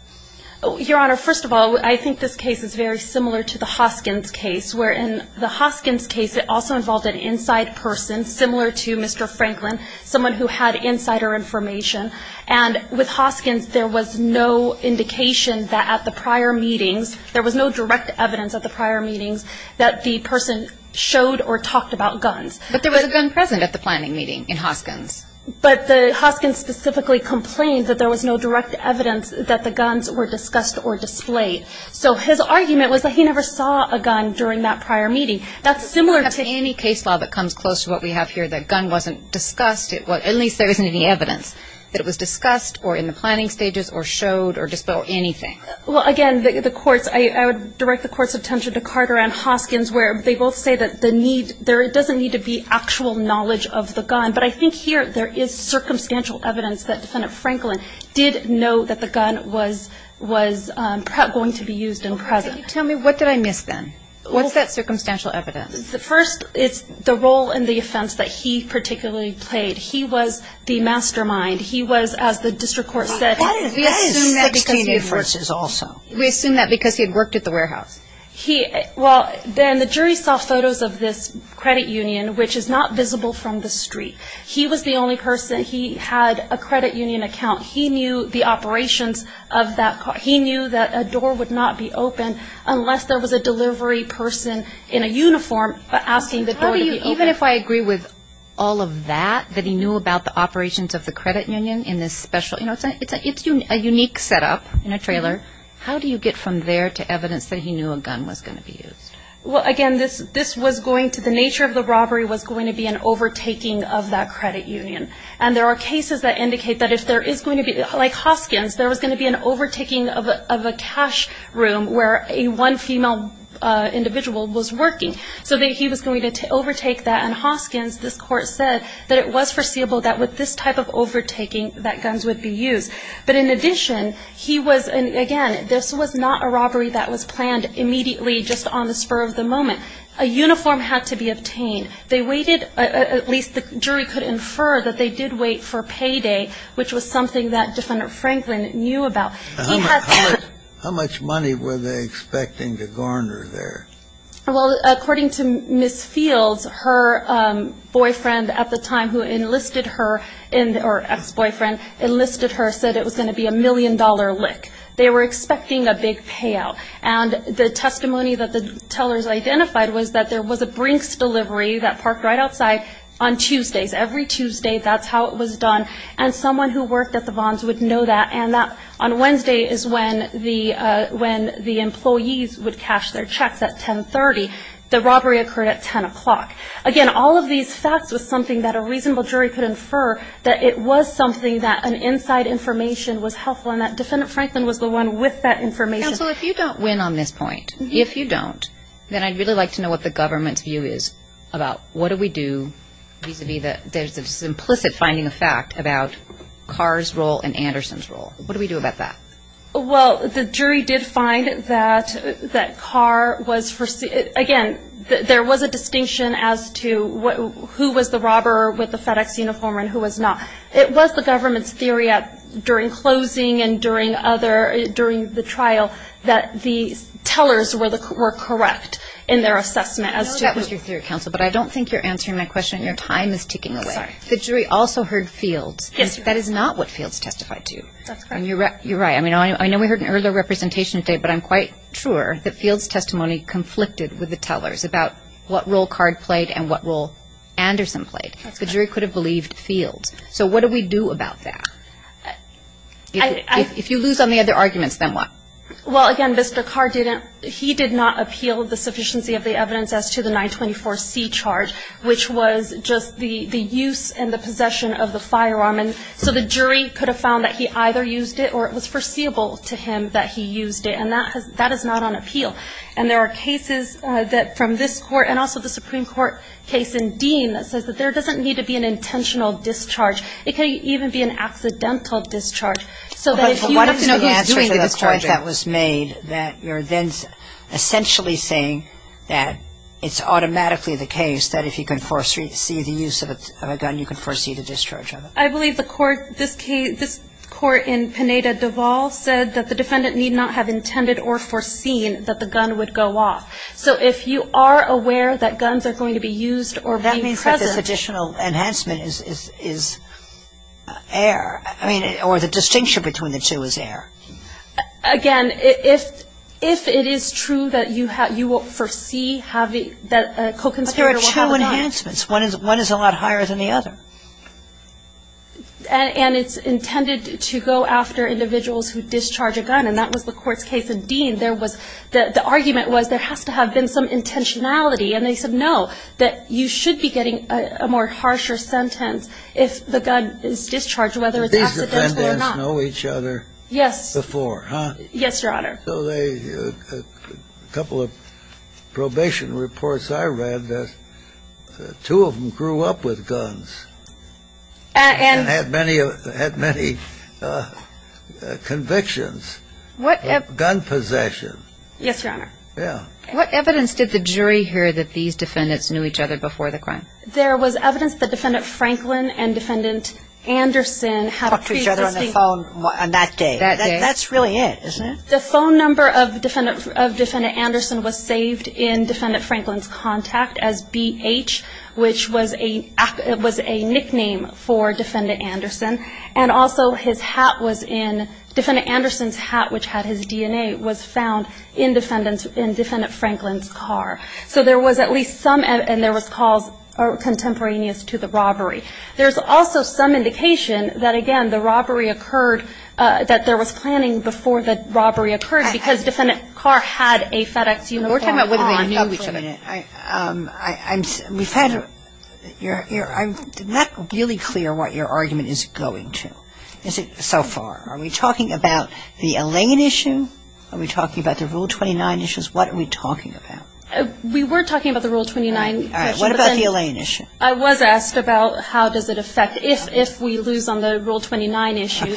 Your Honor, first of all, I think this case is very similar to the Hoskins case where in the Hoskins case it also involved an inside person similar to Mr. Franklin, someone who had insider information. And with Hoskins there was no indication that at the prior meetings there was no direct evidence at the prior meetings that the person showed or talked about guns. But there was a gun present at the planning meeting in Hoskins. But the Hoskins specifically complained that there was no direct evidence that the guns were discussed or displayed. So his argument was that he never saw a gun during that prior meeting. That's similar to... If you have any case law that comes close to what we have here, the gun wasn't discussed, at least there isn't any evidence that it was discussed or in the planning stages or showed or displayed or anything. Well, again, the courts... I would direct the court's attention to Carter and Hoskins where they both say that there doesn't need to be actual knowledge of the gun. But I think here there is circumstantial evidence that Defendant Franklin did know that the gun was going to be used and present. Tell me, what did I miss then? What's that circumstantial evidence? First, it's the role and the offense that he particularly played. He was, as the district court said... We assume that because he had worked at the warehouse. Well, then the jury saw photos of this credit union, which is not visible from the street. He was the only person... He had a credit union account. He knew the operations of that... He knew that a door would not be open unless there was a delivery person in a uniform asking the door to be opened. Even if I agree with all of that, that he knew about the operations of the credit union in this special... It's a unique setup in a trailer. How do you get from there to evidence that he knew a gun was going to be used? Well, again, this was going to... The nature of the robbery was going to be an overtaking of that credit union. And there are cases that indicate that if there is going to be... Like Hoskins, there was going to be an overtaking of a cash room where one female individual was working. So he was going to overtake that. And Hoskins, this court said, that it was foreseeable that with this type of overtaking that guns would be used. But in addition, he was... And again, this was not a robbery that was planned immediately just on the spur of the moment. A uniform had to be obtained. They waited... At least the jury could infer that they did wait for payday, which was something that Defendant Franklin knew about. He had... How much money were they expecting to garner there? Well, according to Ms. Fields, her boyfriend at the time who enlisted her in... Her ex-boyfriend enlisted her and said it was going to be a million-dollar lick. They were expecting a big payout. And the testimony that the tellers identified was that there was a Brinks delivery that parked right outside on Tuesdays. Every Tuesday, that's how it was done. And someone who worked at the Vons would know that. And that, on Wednesday, is when the employees would cash their checks at 1030. The robbery occurred at 10 o'clock. Again, all of these facts was something that a reasonable jury could infer that it was something that an inside information was helpful and that Defendant Franklin was the one with that information. Counsel, if you don't win on this point, if you don't, then I'd really like to know what the government's view is about what do we do vis-à-vis there's this implicit finding of fact about Carr's role and Anderson's role. What do we do about that? Well, the jury did find that Carr was, again, there was a distinction as to who was the robber with the FedEx uniform and who was not. It was the government's theory during closing and during the trial that the tellers were correct in their assessment as to who. I know that was your theory, Counsel, but I don't think you're answering my question. Your time is ticking away. Sorry. The jury also heard Fields. Yes. That is not what Fields testified to. That's correct. And you're right. I mean, I know we heard an earlier representation today, but I'm quite sure that Fields' testimony conflicted with the tellers about what role Carr played and what role Anderson played. The jury could have believed Fields. So what do we do about that? If you lose on the other arguments, then what? Well, again, Mr. Carr didn't, he did not appeal the sufficiency of the evidence as to the 924C charge, which was just the use and the possession of the firearm. And so the jury could have found that he either used it or it was foreseeable to him that he used it. And that is not on appeal. And there are cases from this Court and also the Supreme Court case in Dean that says that there doesn't need to be an intentional discharge. It can even be an accidental discharge. So that if you have to know who's doing the discharging. But what is the answer to the point that was made that you're then essentially saying that it's automatically the case that if you can foresee the use of a gun, you can foresee the discharge of it? I believe the Court, this case, this Court in Pineda-Deval said that the defendant need not have intended or foreseen that the gun would go off. So if you are aware that guns are going to be used or be present. That means that this additional enhancement is, is, is air. I mean, or the distinction between the two is air. Again, if, if it is true that you have, you will foresee having, that a co-conspirator will have a gun. But there are two enhancements. One is, one is a lot higher than the other. And it's intended to go after individuals who discharge a gun. And that was the Court's case in Dean. There was, the argument was there has to have been some intentionality. And they said, no, that you should be getting a more harsher sentence if the gun is discharged, whether it's accidental or not. These defendants know each other. Before, huh? Yes, Your Honor. So they, a couple of probation reports I read that two of them grew up with guns. And had many, had many convictions. What evidence? Gun possession. Yes, Your Honor. Yeah. What evidence did the jury hear that these defendants knew each other before the crime? There was evidence that Defendant Franklin and Defendant Anderson had pre-existing Talked to each other on the phone on that day. That day. That's what they said, isn't it? The phone number of Defendant, of Defendant Anderson was saved in Defendant Franklin's contact as BH, which was a, was a nickname for Defendant Anderson. And also his hat was in, Defendant Anderson's hat, which had his DNA, was found in Defendant's, in Defendant Franklin's car. So there was at least some, and there was calls contemporaneous to the robbery. There's also some indication that, again, the robbery occurred, that there was planning before the robbery occurred because Defendant's car had a FedEx uniform on it. We're talking about whether they knew each other. I'm, we've had your, I'm not really clear what your argument is going to so far. Are we talking about the Allain issue? Are we talking about the Rule 29 issues? What are we talking about? We were talking about the Rule 29 issue. All right. What about the Allain issue? I was asked about how does it affect, if we lose on the Rule 29 issue,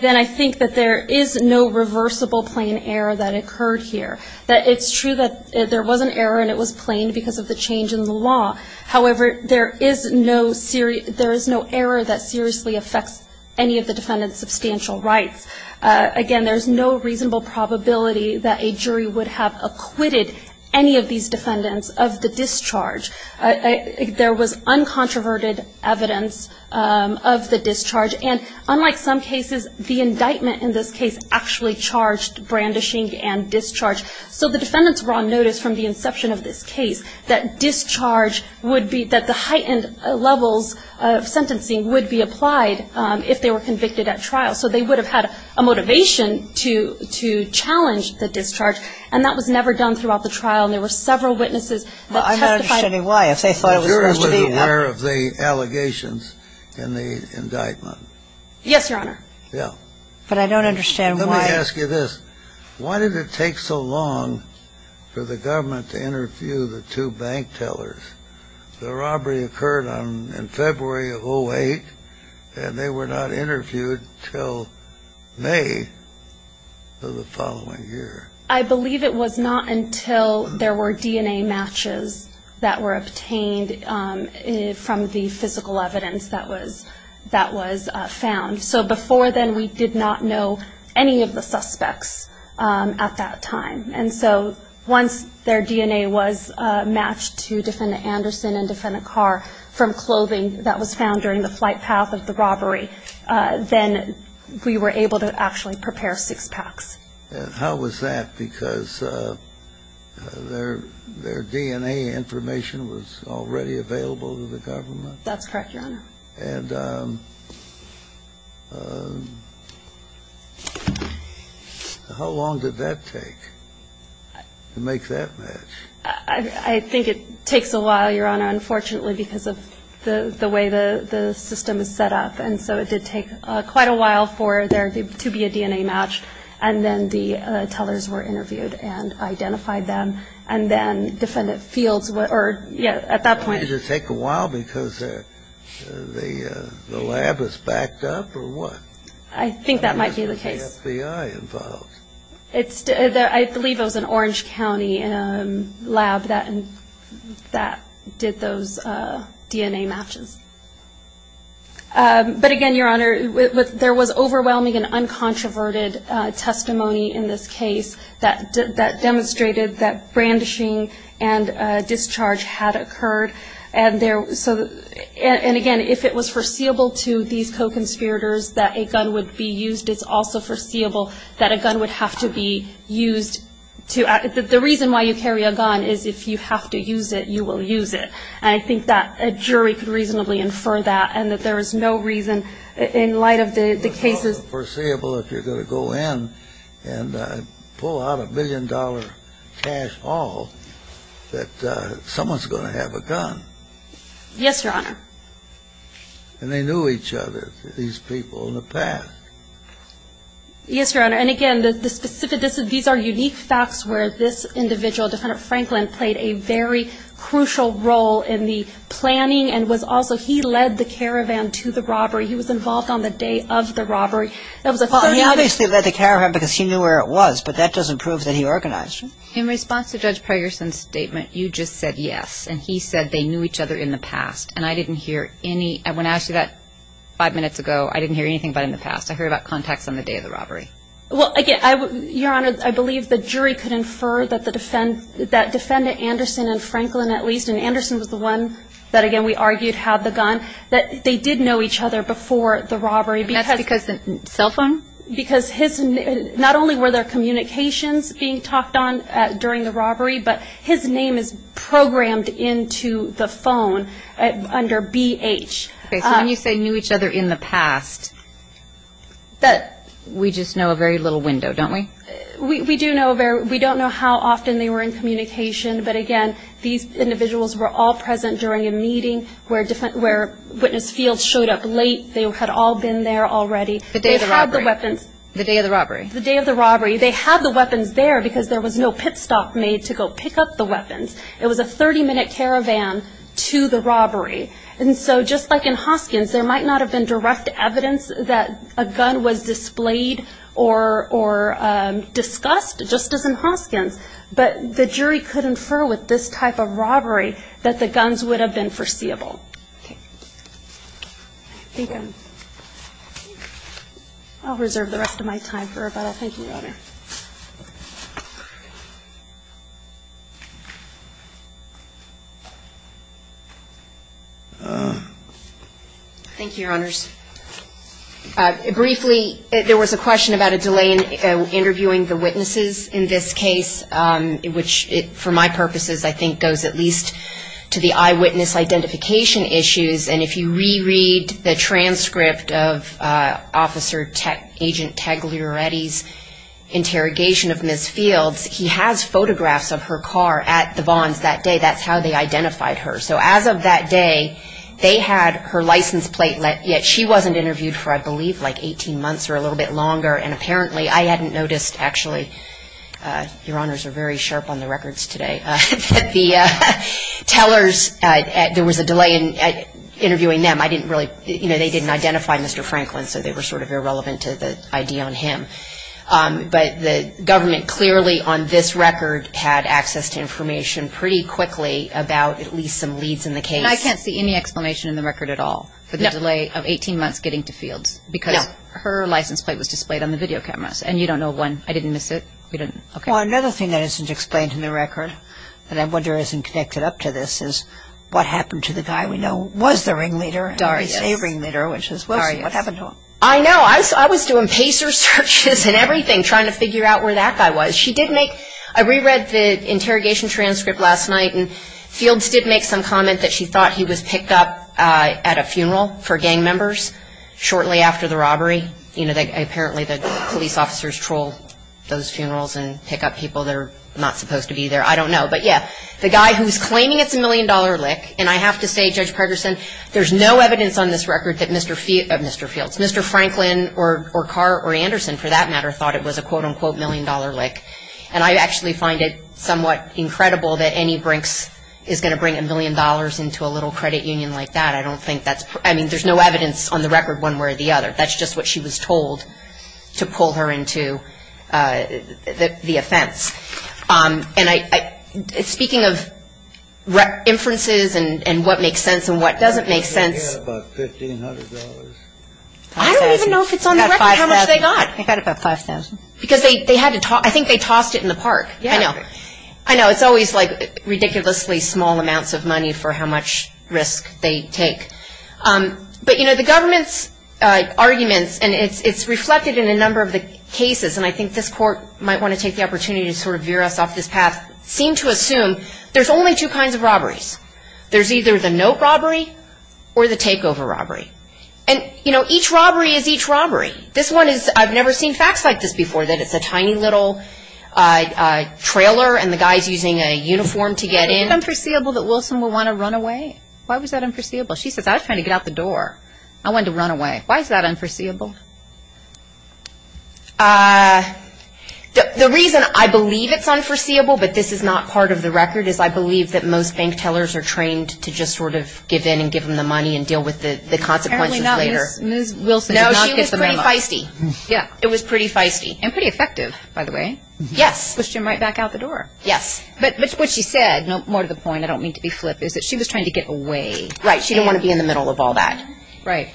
then I think that there is no reversible plain error that occurred here. That it's true that there was an error and it was plain because of the change in the law. However, there is no, there is no error that seriously affects any of the defendant's substantial rights. Again, there's no reasonable probability that a jury would have acquitted any of these defendants of the discharge. There was uncontroverted evidence of the discharge. And unlike some cases, the indictment in this case actually charged brandishing and discharge. So the defendants were on notice from the inception of this case that discharge would be, that the heightened levels of sentencing would be applied if they were convicted at trial. So they would have had a motivation to, to challenge the discharge. And that was never done throughout the trial. And there were several witnesses that testified. I'm not understanding why. If they thought it was supposed to be. The jury was aware of the allegations in the indictment. Yes, Your Honor. Yeah. But I don't understand why. Let me ask you this. Why did it take so long for the government to interview the two bank tellers? The robbery occurred on, in February of 08. And they were not interviewed until May of the following year. I believe it was not until there were DNA matches that were obtained from the physical evidence that was, that was found. So before then, we did not know any of the suspects at that time. And so once their DNA was matched to defendant Anderson and defendant Carr from clothing that was found during the flight path of the robbery, then we were able to actually prepare six packs. And how was that? Because their DNA information was already available to the government? That's correct, Your Honor. And how long did that take to make that match? I think it takes a while, Your Honor, unfortunately, because of the way the system is set up. And so it did take quite a while for there to be a DNA match. And then the tellers were interviewed and identified them. And then defendant Fields or, yeah, at that point. Did it take a while because the lab was backed up or what? I think that might be the case. FBI involved. I believe it was an Orange County lab that did those DNA matches. But, again, Your Honor, there was overwhelming and uncontroverted testimony in this case that demonstrated that brandishing and discharge had occurred. And, again, if it was foreseeable to these co-conspirators that a gun would be used, it's also foreseeable that a gun would have to be used. The reason why you carry a gun is if you have to use it, you will use it. And I think that a jury could reasonably infer that and that there is no reason in light of the cases. It's not foreseeable if you're going to go in and pull out a million-dollar cash haul that someone's going to have a gun. Yes, Your Honor. And they knew each other, these people, in the past. Yes, Your Honor. And, again, the specific – these are unique facts where this individual, Defendant Franklin, played a very crucial role in the planning and was also – he led the caravan to the robbery. He was involved on the day of the robbery. That was a thought. He obviously led the caravan because he knew where it was, but that doesn't prove that he organized it. In response to Judge Pergerson's statement, you just said yes, and he said they knew each other in the past. And I didn't hear any – when I asked you that five minutes ago, I didn't hear anything about in the past. I heard about contacts on the day of the robbery. Well, again, Your Honor, I believe the jury could infer that the – that Defendant Anderson and Franklin, at least, and Anderson was the one that, again, we argued had the gun, that they did know each other before the robbery. And that's because the cell phone? Because his – not only were there communications being talked on during the robbery, but his name is programmed into the phone under BH. Okay, so when you say knew each other in the past, we just know a very little window, don't we? We do know a very – we don't know how often they were in communication. But, again, these individuals were all present during a meeting where witness fields showed up late. They had all been there already. The day of the robbery. They had the weapons. The day of the robbery. The day of the robbery. They had the weapons there because there was no pit stop made to go pick up the weapons. It was a 30-minute caravan to the robbery. And so just like in Hoskins, there might not have been direct evidence that a gun was displayed or discussed, just as in Hoskins. But the jury could infer with this type of robbery that the guns would have been foreseeable. Okay. Thank you. I'll reserve the rest of my time for rebuttal. Thank you, Your Honor. Thank you, Your Honors. Briefly, there was a question about a delay in interviewing the witnesses in this case, which, for my purposes, I think goes at least to the eyewitness identification issues. And if you reread the transcript of Officer Agent Tagliaretti's interview, interrogation of Ms. Fields, he has photographs of her car at the Vons that day. That's how they identified her. So as of that day, they had her license plate. Yet she wasn't interviewed for, I believe, like 18 months or a little bit longer. And apparently, I hadn't noticed, actually. Your Honors are very sharp on the records today. The tellers, there was a delay in interviewing them. I didn't really, you know, they didn't identify Mr. Franklin, so they were sort of irrelevant to the ID on him. But the government clearly, on this record, had access to information pretty quickly about at least some leads in the case. And I can't see any explanation in the record at all for the delay of 18 months getting to Fields. No. Because her license plate was displayed on the video cameras. And you don't know when. I didn't miss it. You didn't. Okay. Well, another thing that isn't explained in the record that I wonder isn't connected up to this is what happened to the guy we know was the ringleader and is a ringleader, which is Wilson. What happened to him? I know. I was doing pacer searches and everything trying to figure out where that guy was. She did make, I reread the interrogation transcript last night, and Fields did make some comment that she thought he was picked up at a funeral for gang members shortly after the robbery. You know, apparently the police officers troll those funerals and pick up people that are not supposed to be there. I don't know. But, yeah, the guy who's claiming it's a million-dollar lick, and I have to say, Judge Parderson, there's no evidence on this record that Mr. Fields, Mr. Franklin or Carr or Anderson, for that matter, thought it was a quote-unquote million-dollar lick. And I actually find it somewhat incredible that any brinks is going to bring a million dollars into a little credit union like that. I don't think that's, I mean, there's no evidence on the record one way or the other. That's just what she was told to pull her into the offense. And I, speaking of inferences and what makes sense and what doesn't make sense. About $1,500. I don't even know if it's on the record how much they got. They got about $5,000. Because they had to, I think they tossed it in the park. Yeah. I know. I know. It's always like ridiculously small amounts of money for how much risk they take. But, you know, the government's arguments, and it's reflected in a number of the cases, and I think this court might want to take the opportunity to sort of veer us off this path, seem to assume there's only two kinds of robberies. There's either the note robbery or the takeover robbery. And, you know, each robbery is each robbery. This one is, I've never seen facts like this before, that it's a tiny little trailer and the guy's using a uniform to get in. Is it unforeseeable that Wilson would want to run away? Why was that unforeseeable? She says, I was trying to get out the door. I wanted to run away. Why is that unforeseeable? The reason I believe it's unforeseeable, but this is not part of the record, is I believe that most bank tellers are trained to just sort of give in and give them the money and deal with the consequences later. Apparently not Ms. Wilson did not get the memo. No, she was pretty feisty. Yeah. It was pretty feisty. And pretty effective, by the way. Yes. Pushed him right back out the door. Yes. But what she said, more to the point, I don't mean to be flip, is that she was trying to get away. Right. She didn't want to be in the middle of all that. Right.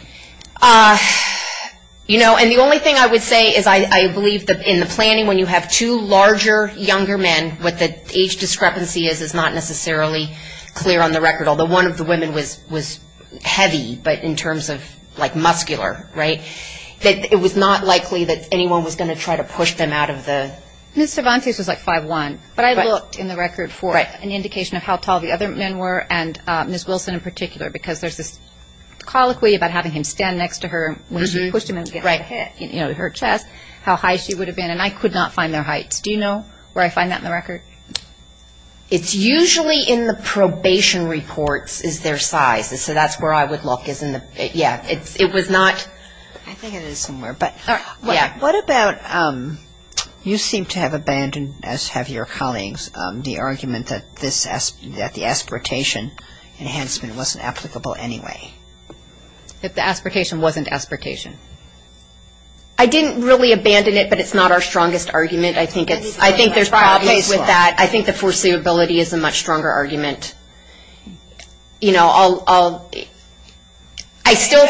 You know, and the only thing I would say is I believe that in the planning, when you have two larger, younger men, what the age discrepancy is is not necessarily clear on the record, although one of the women was heavy, but in terms of like muscular, right, that it was not likely that anyone was going to try to push them out of the. Ms. Cervantes was like 5'1", but I looked in the record for an indication of how tall the other men were, and Ms. Wilson in particular, because there's this colloquy about having him stand next to her when she pushed him against her head, you know, her chest, how high she would have been, and I could not find their heights. Do you know where I find that in the record? It's usually in the probation reports is their size, so that's where I would look is in the, yeah, it was not. I think it is somewhere. Yeah. What about you seem to have abandoned, as have your colleagues, the argument that the aspiratation enhancement wasn't applicable anyway? That the aspiratation wasn't aspiratation. I didn't really abandon it, but it's not our strongest argument. I think there's problems with that. I think the foreseeability is a much stronger argument. You know, I'll, I still.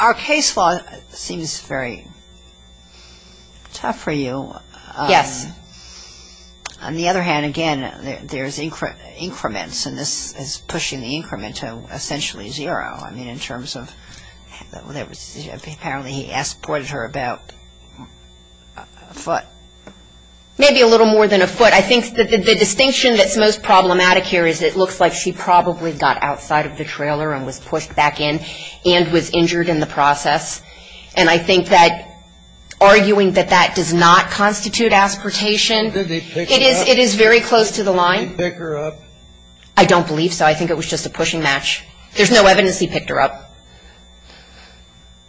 Our case law seems very tough for you. Yes. On the other hand, again, there's increments, and this is pushing the increment to essentially zero. I mean, in terms of, apparently he pointed her about a foot. Maybe a little more than a foot. I think the distinction that's most problematic here is it looks like she probably got outside of the trailer and was pushed back in and was injured in the process, and I think that arguing that that does not constitute aspiratation. Did they pick her up? It is very close to the line. Did they pick her up? I don't believe so. I think it was just a pushing match. There's no evidence he picked her up,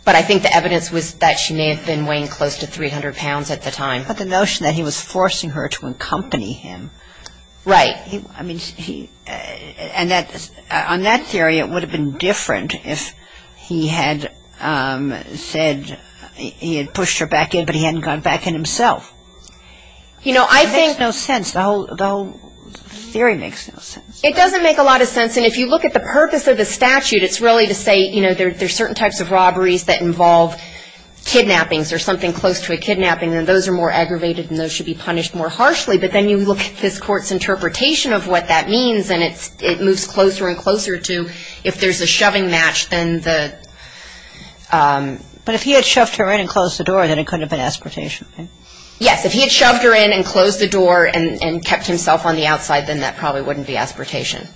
but I think the evidence was that she may have been weighing close to 300 pounds at the time. But the notion that he was forcing her to accompany him. Right. On that theory, it would have been different if he had said he had pushed her back in, but he hadn't gone back in himself. It makes no sense. The whole theory makes no sense. It doesn't make a lot of sense, and if you look at the purpose of the statute, it's really to say there's certain types of robberies that involve kidnappings or something close to a kidnapping, and those are more aggravated and those should be punished more harshly. But then you look at this court's interpretation of what that means, and it moves closer and closer to if there's a shoving match, then the ‑‑ But if he had shoved her in and closed the door, then it couldn't have been aspiratation. Yes. If he had shoved her in and closed the door and kept himself on the outside, then that probably wouldn't be aspiratation.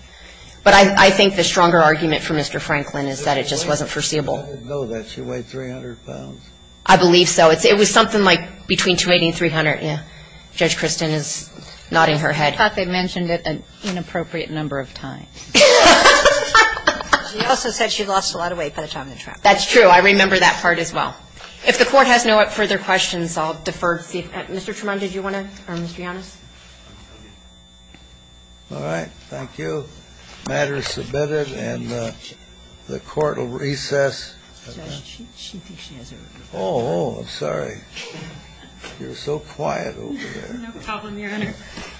But I think the stronger argument for Mr. Franklin is that it just wasn't foreseeable. I didn't know that she weighed 300 pounds. I believe so. It was something like between 280 and 300. The court has had a lot of time to think about it. I think it's a good part. Yes. Judge Kristen is nodding her head. I thought they mentioned it an inappropriate number of times. She also said she lost a lot of weight by the time the trial. That's true. I remember that part as well. If the Court has no further questions, I'll defer to ‑‑ Mr. Tremont, did you want to ‑‑ or Mr. Yannis? All right. Thank you. The matter is submitted, and the Court will recess. Judge, she thinks she has it. Oh, I'm sorry. You're so quiet over there. No problem, Your Honor.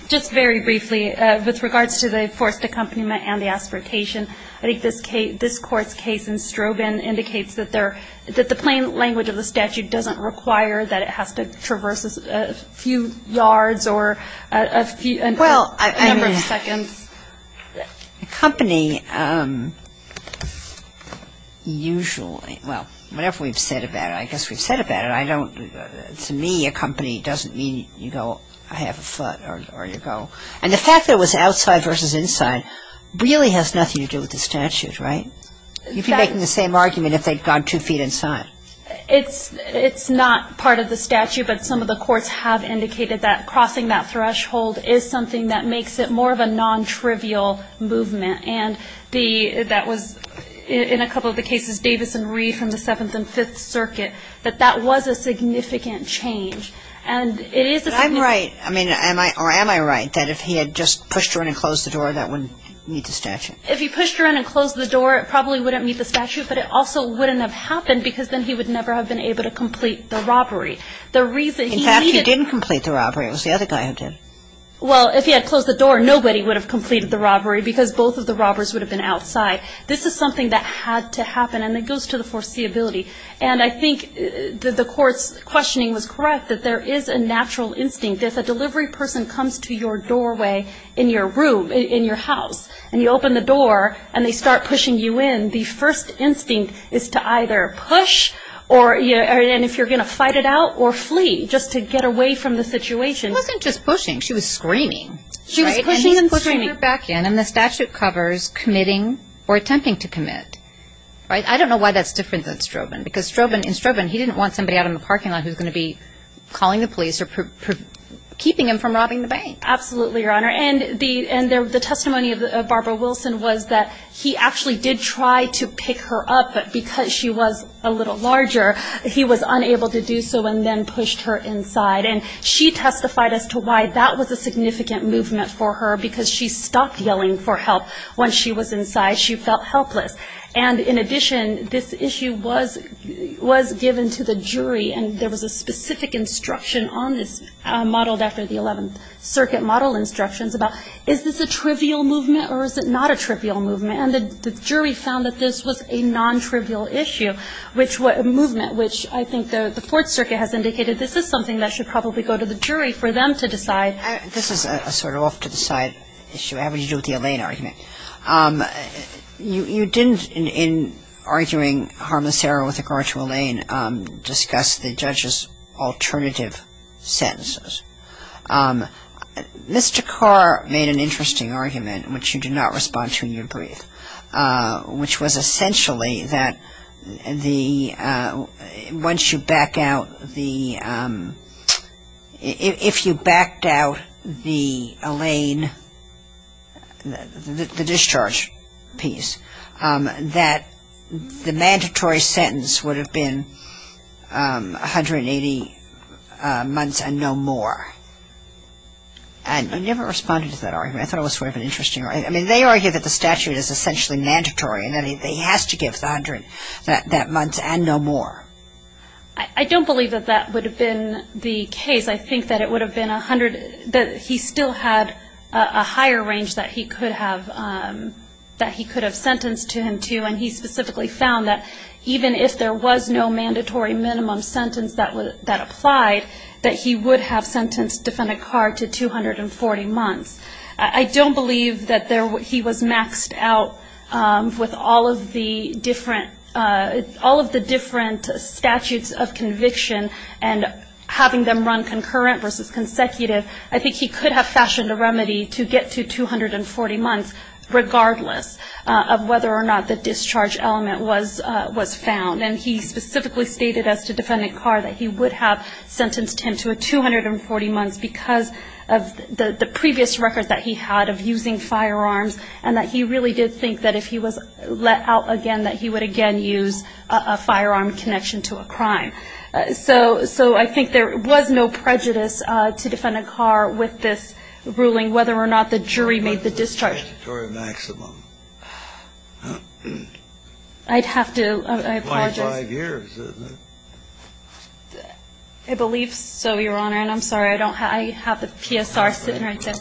Just very briefly, with regards to the forced accompaniment and the aspiratation, I think this Court's case in Strobin indicates that the plain language of the statute doesn't require that it has to traverse a few yards or a number of seconds. Accompany usually ‑‑ well, whatever we've said about it. I guess we've said about it. I don't ‑‑ to me, accompany doesn't mean you go, I have a foot, or you go. And the fact that it was outside versus inside really has nothing to do with the statute, right? You'd be making the same argument if they'd gone two feet inside. It's not part of the statute, but some of the courts have indicated that crossing that threshold is something that makes it more of a nontrivial movement. And that was, in a couple of the cases, Davis and Reed from the Seventh and Fifth Circuit, that that was a significant change. But I'm right, or am I right, that if he had just pushed her in and closed the door, that wouldn't meet the statute? If he pushed her in and closed the door, it probably wouldn't meet the statute, but it also wouldn't have happened because then he would never have been able to complete the robbery. In fact, he didn't complete the robbery. It was the other guy who did. Well, if he had closed the door, nobody would have completed the robbery because both of the robbers would have been outside. This is something that had to happen, and it goes to the foreseeability. And I think the court's questioning was correct, that there is a natural instinct. If a delivery person comes to your doorway in your room, in your house, and you open the door and they start pushing you in, the first instinct is to either push, and if you're going to fight it out, or flee, just to get away from the situation. It wasn't just pushing. She was screaming. She was pushing and screaming. And he's pushing her back in, and the statute covers committing or attempting to commit. I don't know why that's different than Strobin, because in Strobin, he didn't want somebody out in the parking lot who was going to be calling the police or keeping him from robbing the bank. Absolutely, Your Honor. And the testimony of Barbara Wilson was that he actually did try to pick her up, but because she was a little larger, he was unable to do so and then pushed her inside. And she testified as to why that was a significant movement for her, because she stopped yelling for help when she was inside. She felt helpless. And in addition, this issue was given to the jury, and there was a specific instruction on this modeled after the 11th Circuit model instructions about is this a trivial movement or is it not a trivial movement. And the jury found that this was a non-trivial issue, a movement, which I think the Fourth Circuit has indicated this is something that should probably go to the jury for them to decide. This is a sort of off-the-side issue having to do with the Allain argument. You didn't, in arguing harmless error with regard to Allain, discuss the judge's alternative sentences. Mr. Carr made an interesting argument, which you did not respond to in your brief, which was essentially that the, once you back out the, if you backed out the Allain, the discharge piece, that the mandatory sentence would have been 180 months and no more. And you never responded to that argument. I thought it was sort of an interesting argument. I mean, they argue that the statute is essentially mandatory and that he has to give 100 that month and no more. I don't believe that that would have been the case. I think that it would have been 100, that he still had a higher range that he could have sentenced to him to, and he specifically found that even if there was no mandatory minimum sentence that applied, that he would have sentenced defendant Carr to 240 months. I don't believe that he was maxed out with all of the different statutes of conviction and having them run concurrent versus consecutive. I think he could have fashioned a remedy to get to 240 months, regardless of whether or not the discharge element was found. And he specifically stated as to defendant Carr that he would have sentenced him to 240 months because of the previous records that he had of using firearms, and that he really did think that if he was let out again, that he would again use a firearm connection to a crime. So I think there was no prejudice to defendant Carr with this ruling, whether or not the jury made the discharge. What was the mandatory maximum? I'd have to apologize. 25 years, isn't it? I believe so, Your Honor. I'm sorry. I have the PSR sitting right there.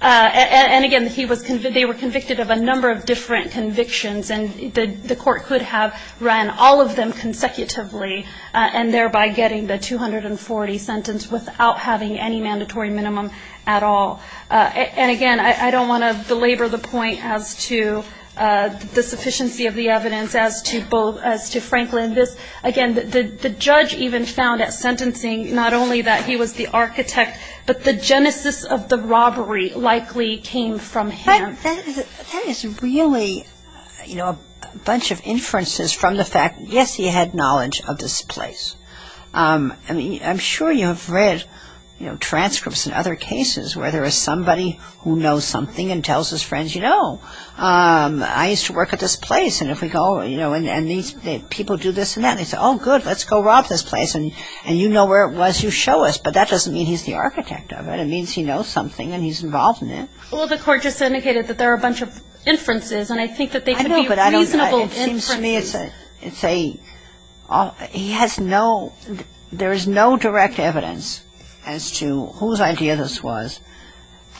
And, again, they were convicted of a number of different convictions, and the court could have run all of them consecutively and thereby getting the 240 sentence without having any mandatory minimum at all. And, again, I don't want to belabor the point as to the sufficiency of the evidence as to Franklin. Again, the judge even found at sentencing not only that he was the architect, but the genesis of the robbery likely came from him. That is really, you know, a bunch of inferences from the fact, yes, he had knowledge of this place. I mean, I'm sure you have read, you know, transcripts in other cases where there is somebody who knows something and tells his friends, you know, I used to work at this place, and if we go, you know, and these people do this and that. They say, oh, good, let's go rob this place. And you know where it was, you show us. But that doesn't mean he's the architect of it. It means he knows something and he's involved in it. Well, the court just indicated that there are a bunch of inferences, and I think that they could be reasonable inferences. I know, but it seems to me it's a – he has no – there is no direct evidence as to whose idea this was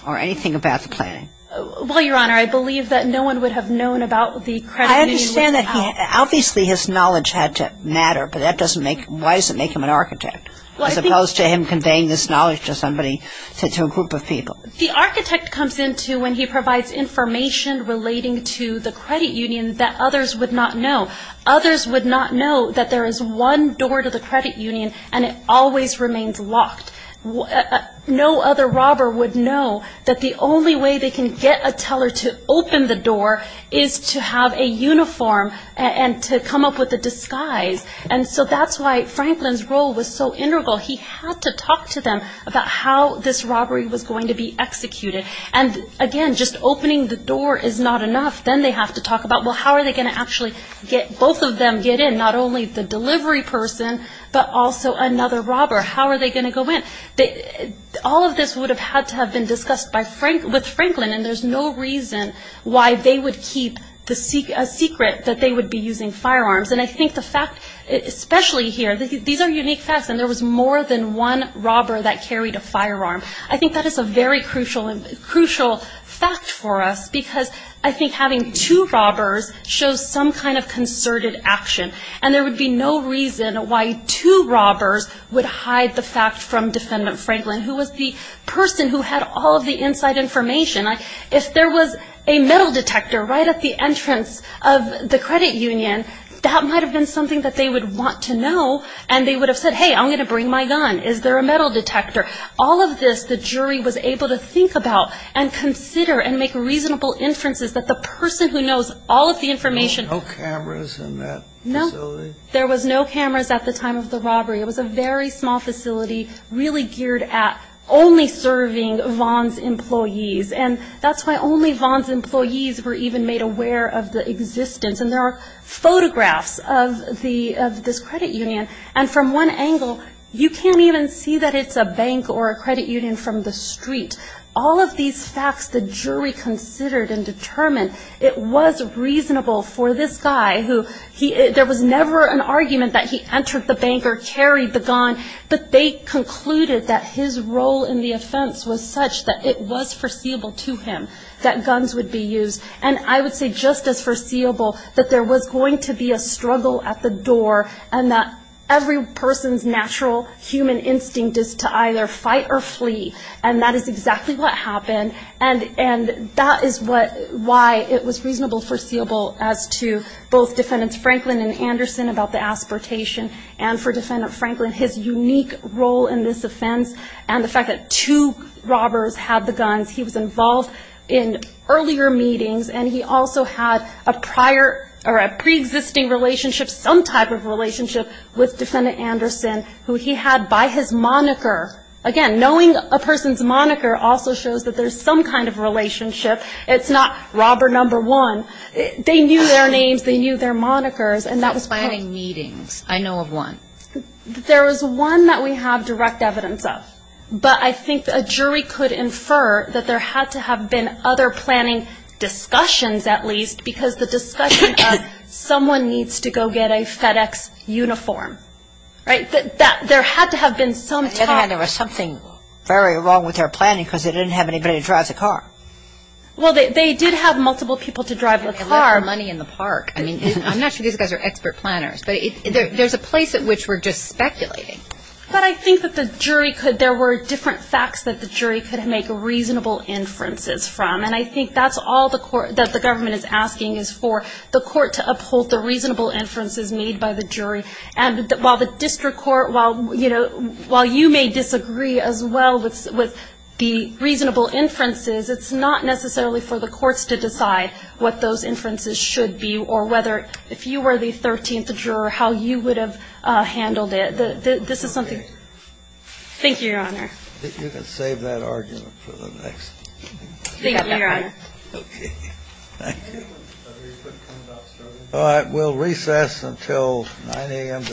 or anything about the planning. Well, Your Honor, I believe that no one would have known about the credit union without – I understand that he – obviously his knowledge had to matter, but that doesn't make – why does it make him an architect, as opposed to him conveying this knowledge to somebody, to a group of people? The architect comes into when he provides information relating to the credit union that others would not know. Others would not know that there is one door to the credit union and it always remains locked. No other robber would know that the only way they can get a teller to open the door is to have a uniform and to come up with a disguise. And so that's why Franklin's role was so integral. He had to talk to them about how this robbery was going to be executed. And, again, just opening the door is not enough. Then they have to talk about, well, how are they going to actually get – both of them get in, not only the delivery person but also another robber. How are they going to go in? All of this would have had to have been discussed with Franklin, and there's no reason why they would keep a secret that they would be using firearms. And I think the fact – especially here, these are unique facts, and there was more than one robber that carried a firearm. I think that is a very crucial fact for us, because I think having two robbers shows some kind of concerted action. And there would be no reason why two robbers would hide the fact from Defendant Franklin, who was the person who had all of the inside information. If there was a metal detector right at the entrance of the credit union, that might have been something that they would want to know, and they would have said, hey, I'm going to bring my gun. Is there a metal detector? All of this the jury was able to think about and consider and make reasonable inferences that the person who knows all of the information – There was no cameras at the time of the robbery. It was a very small facility really geared at only serving Vaughn's employees, and that's why only Vaughn's employees were even made aware of the existence. And there are photographs of this credit union, and from one angle you can't even see that it's a bank or a credit union from the street. All of these facts the jury considered and determined, it was reasonable for this guy who – There was never an argument that he entered the bank or carried the gun, but they concluded that his role in the offense was such that it was foreseeable to him that guns would be used. And I would say just as foreseeable that there was going to be a struggle at the door and that every person's natural human instinct is to either fight or flee, and that is exactly what happened. And that is why it was reasonable, foreseeable, as to both Defendants Franklin and Anderson about the aspiratation, and for Defendant Franklin, his unique role in this offense, and the fact that two robbers had the guns. He was involved in earlier meetings, and he also had a prior or a preexisting relationship, some type of relationship with Defendant Anderson, who he had by his moniker. Again, knowing a person's moniker also shows that there's some kind of relationship. It's not robber number one. They knew their names. They knew their monikers, and that was fine. Planning meetings. I know of one. There is one that we have direct evidence of, but I think a jury could infer that there had to have been other planning discussions, at least, because the discussion of someone needs to go get a FedEx uniform, right? There had to have been some talk. On the other hand, there was something very wrong with their planning because they didn't have anybody to drive the car. Well, they did have multiple people to drive the car. They left their money in the park. I mean, I'm not sure these guys are expert planners, but there's a place at which we're just speculating. But I think that the jury could, there were different facts that the jury could make reasonable inferences from, and I think that's all that the government is asking, is for the court to uphold the reasonable inferences made by the jury, and while the district court, while, you know, while you may disagree as well with the reasonable inferences, it's not necessarily for the courts to decide what those inferences should be or whether, if you were the 13th juror, how you would have handled it. This is something. Thank you, Your Honor. You can save that argument for the next. Thank you, Your Honor. Okay. Thank you. All right. We'll recess until 9 a.m. tomorrow morning.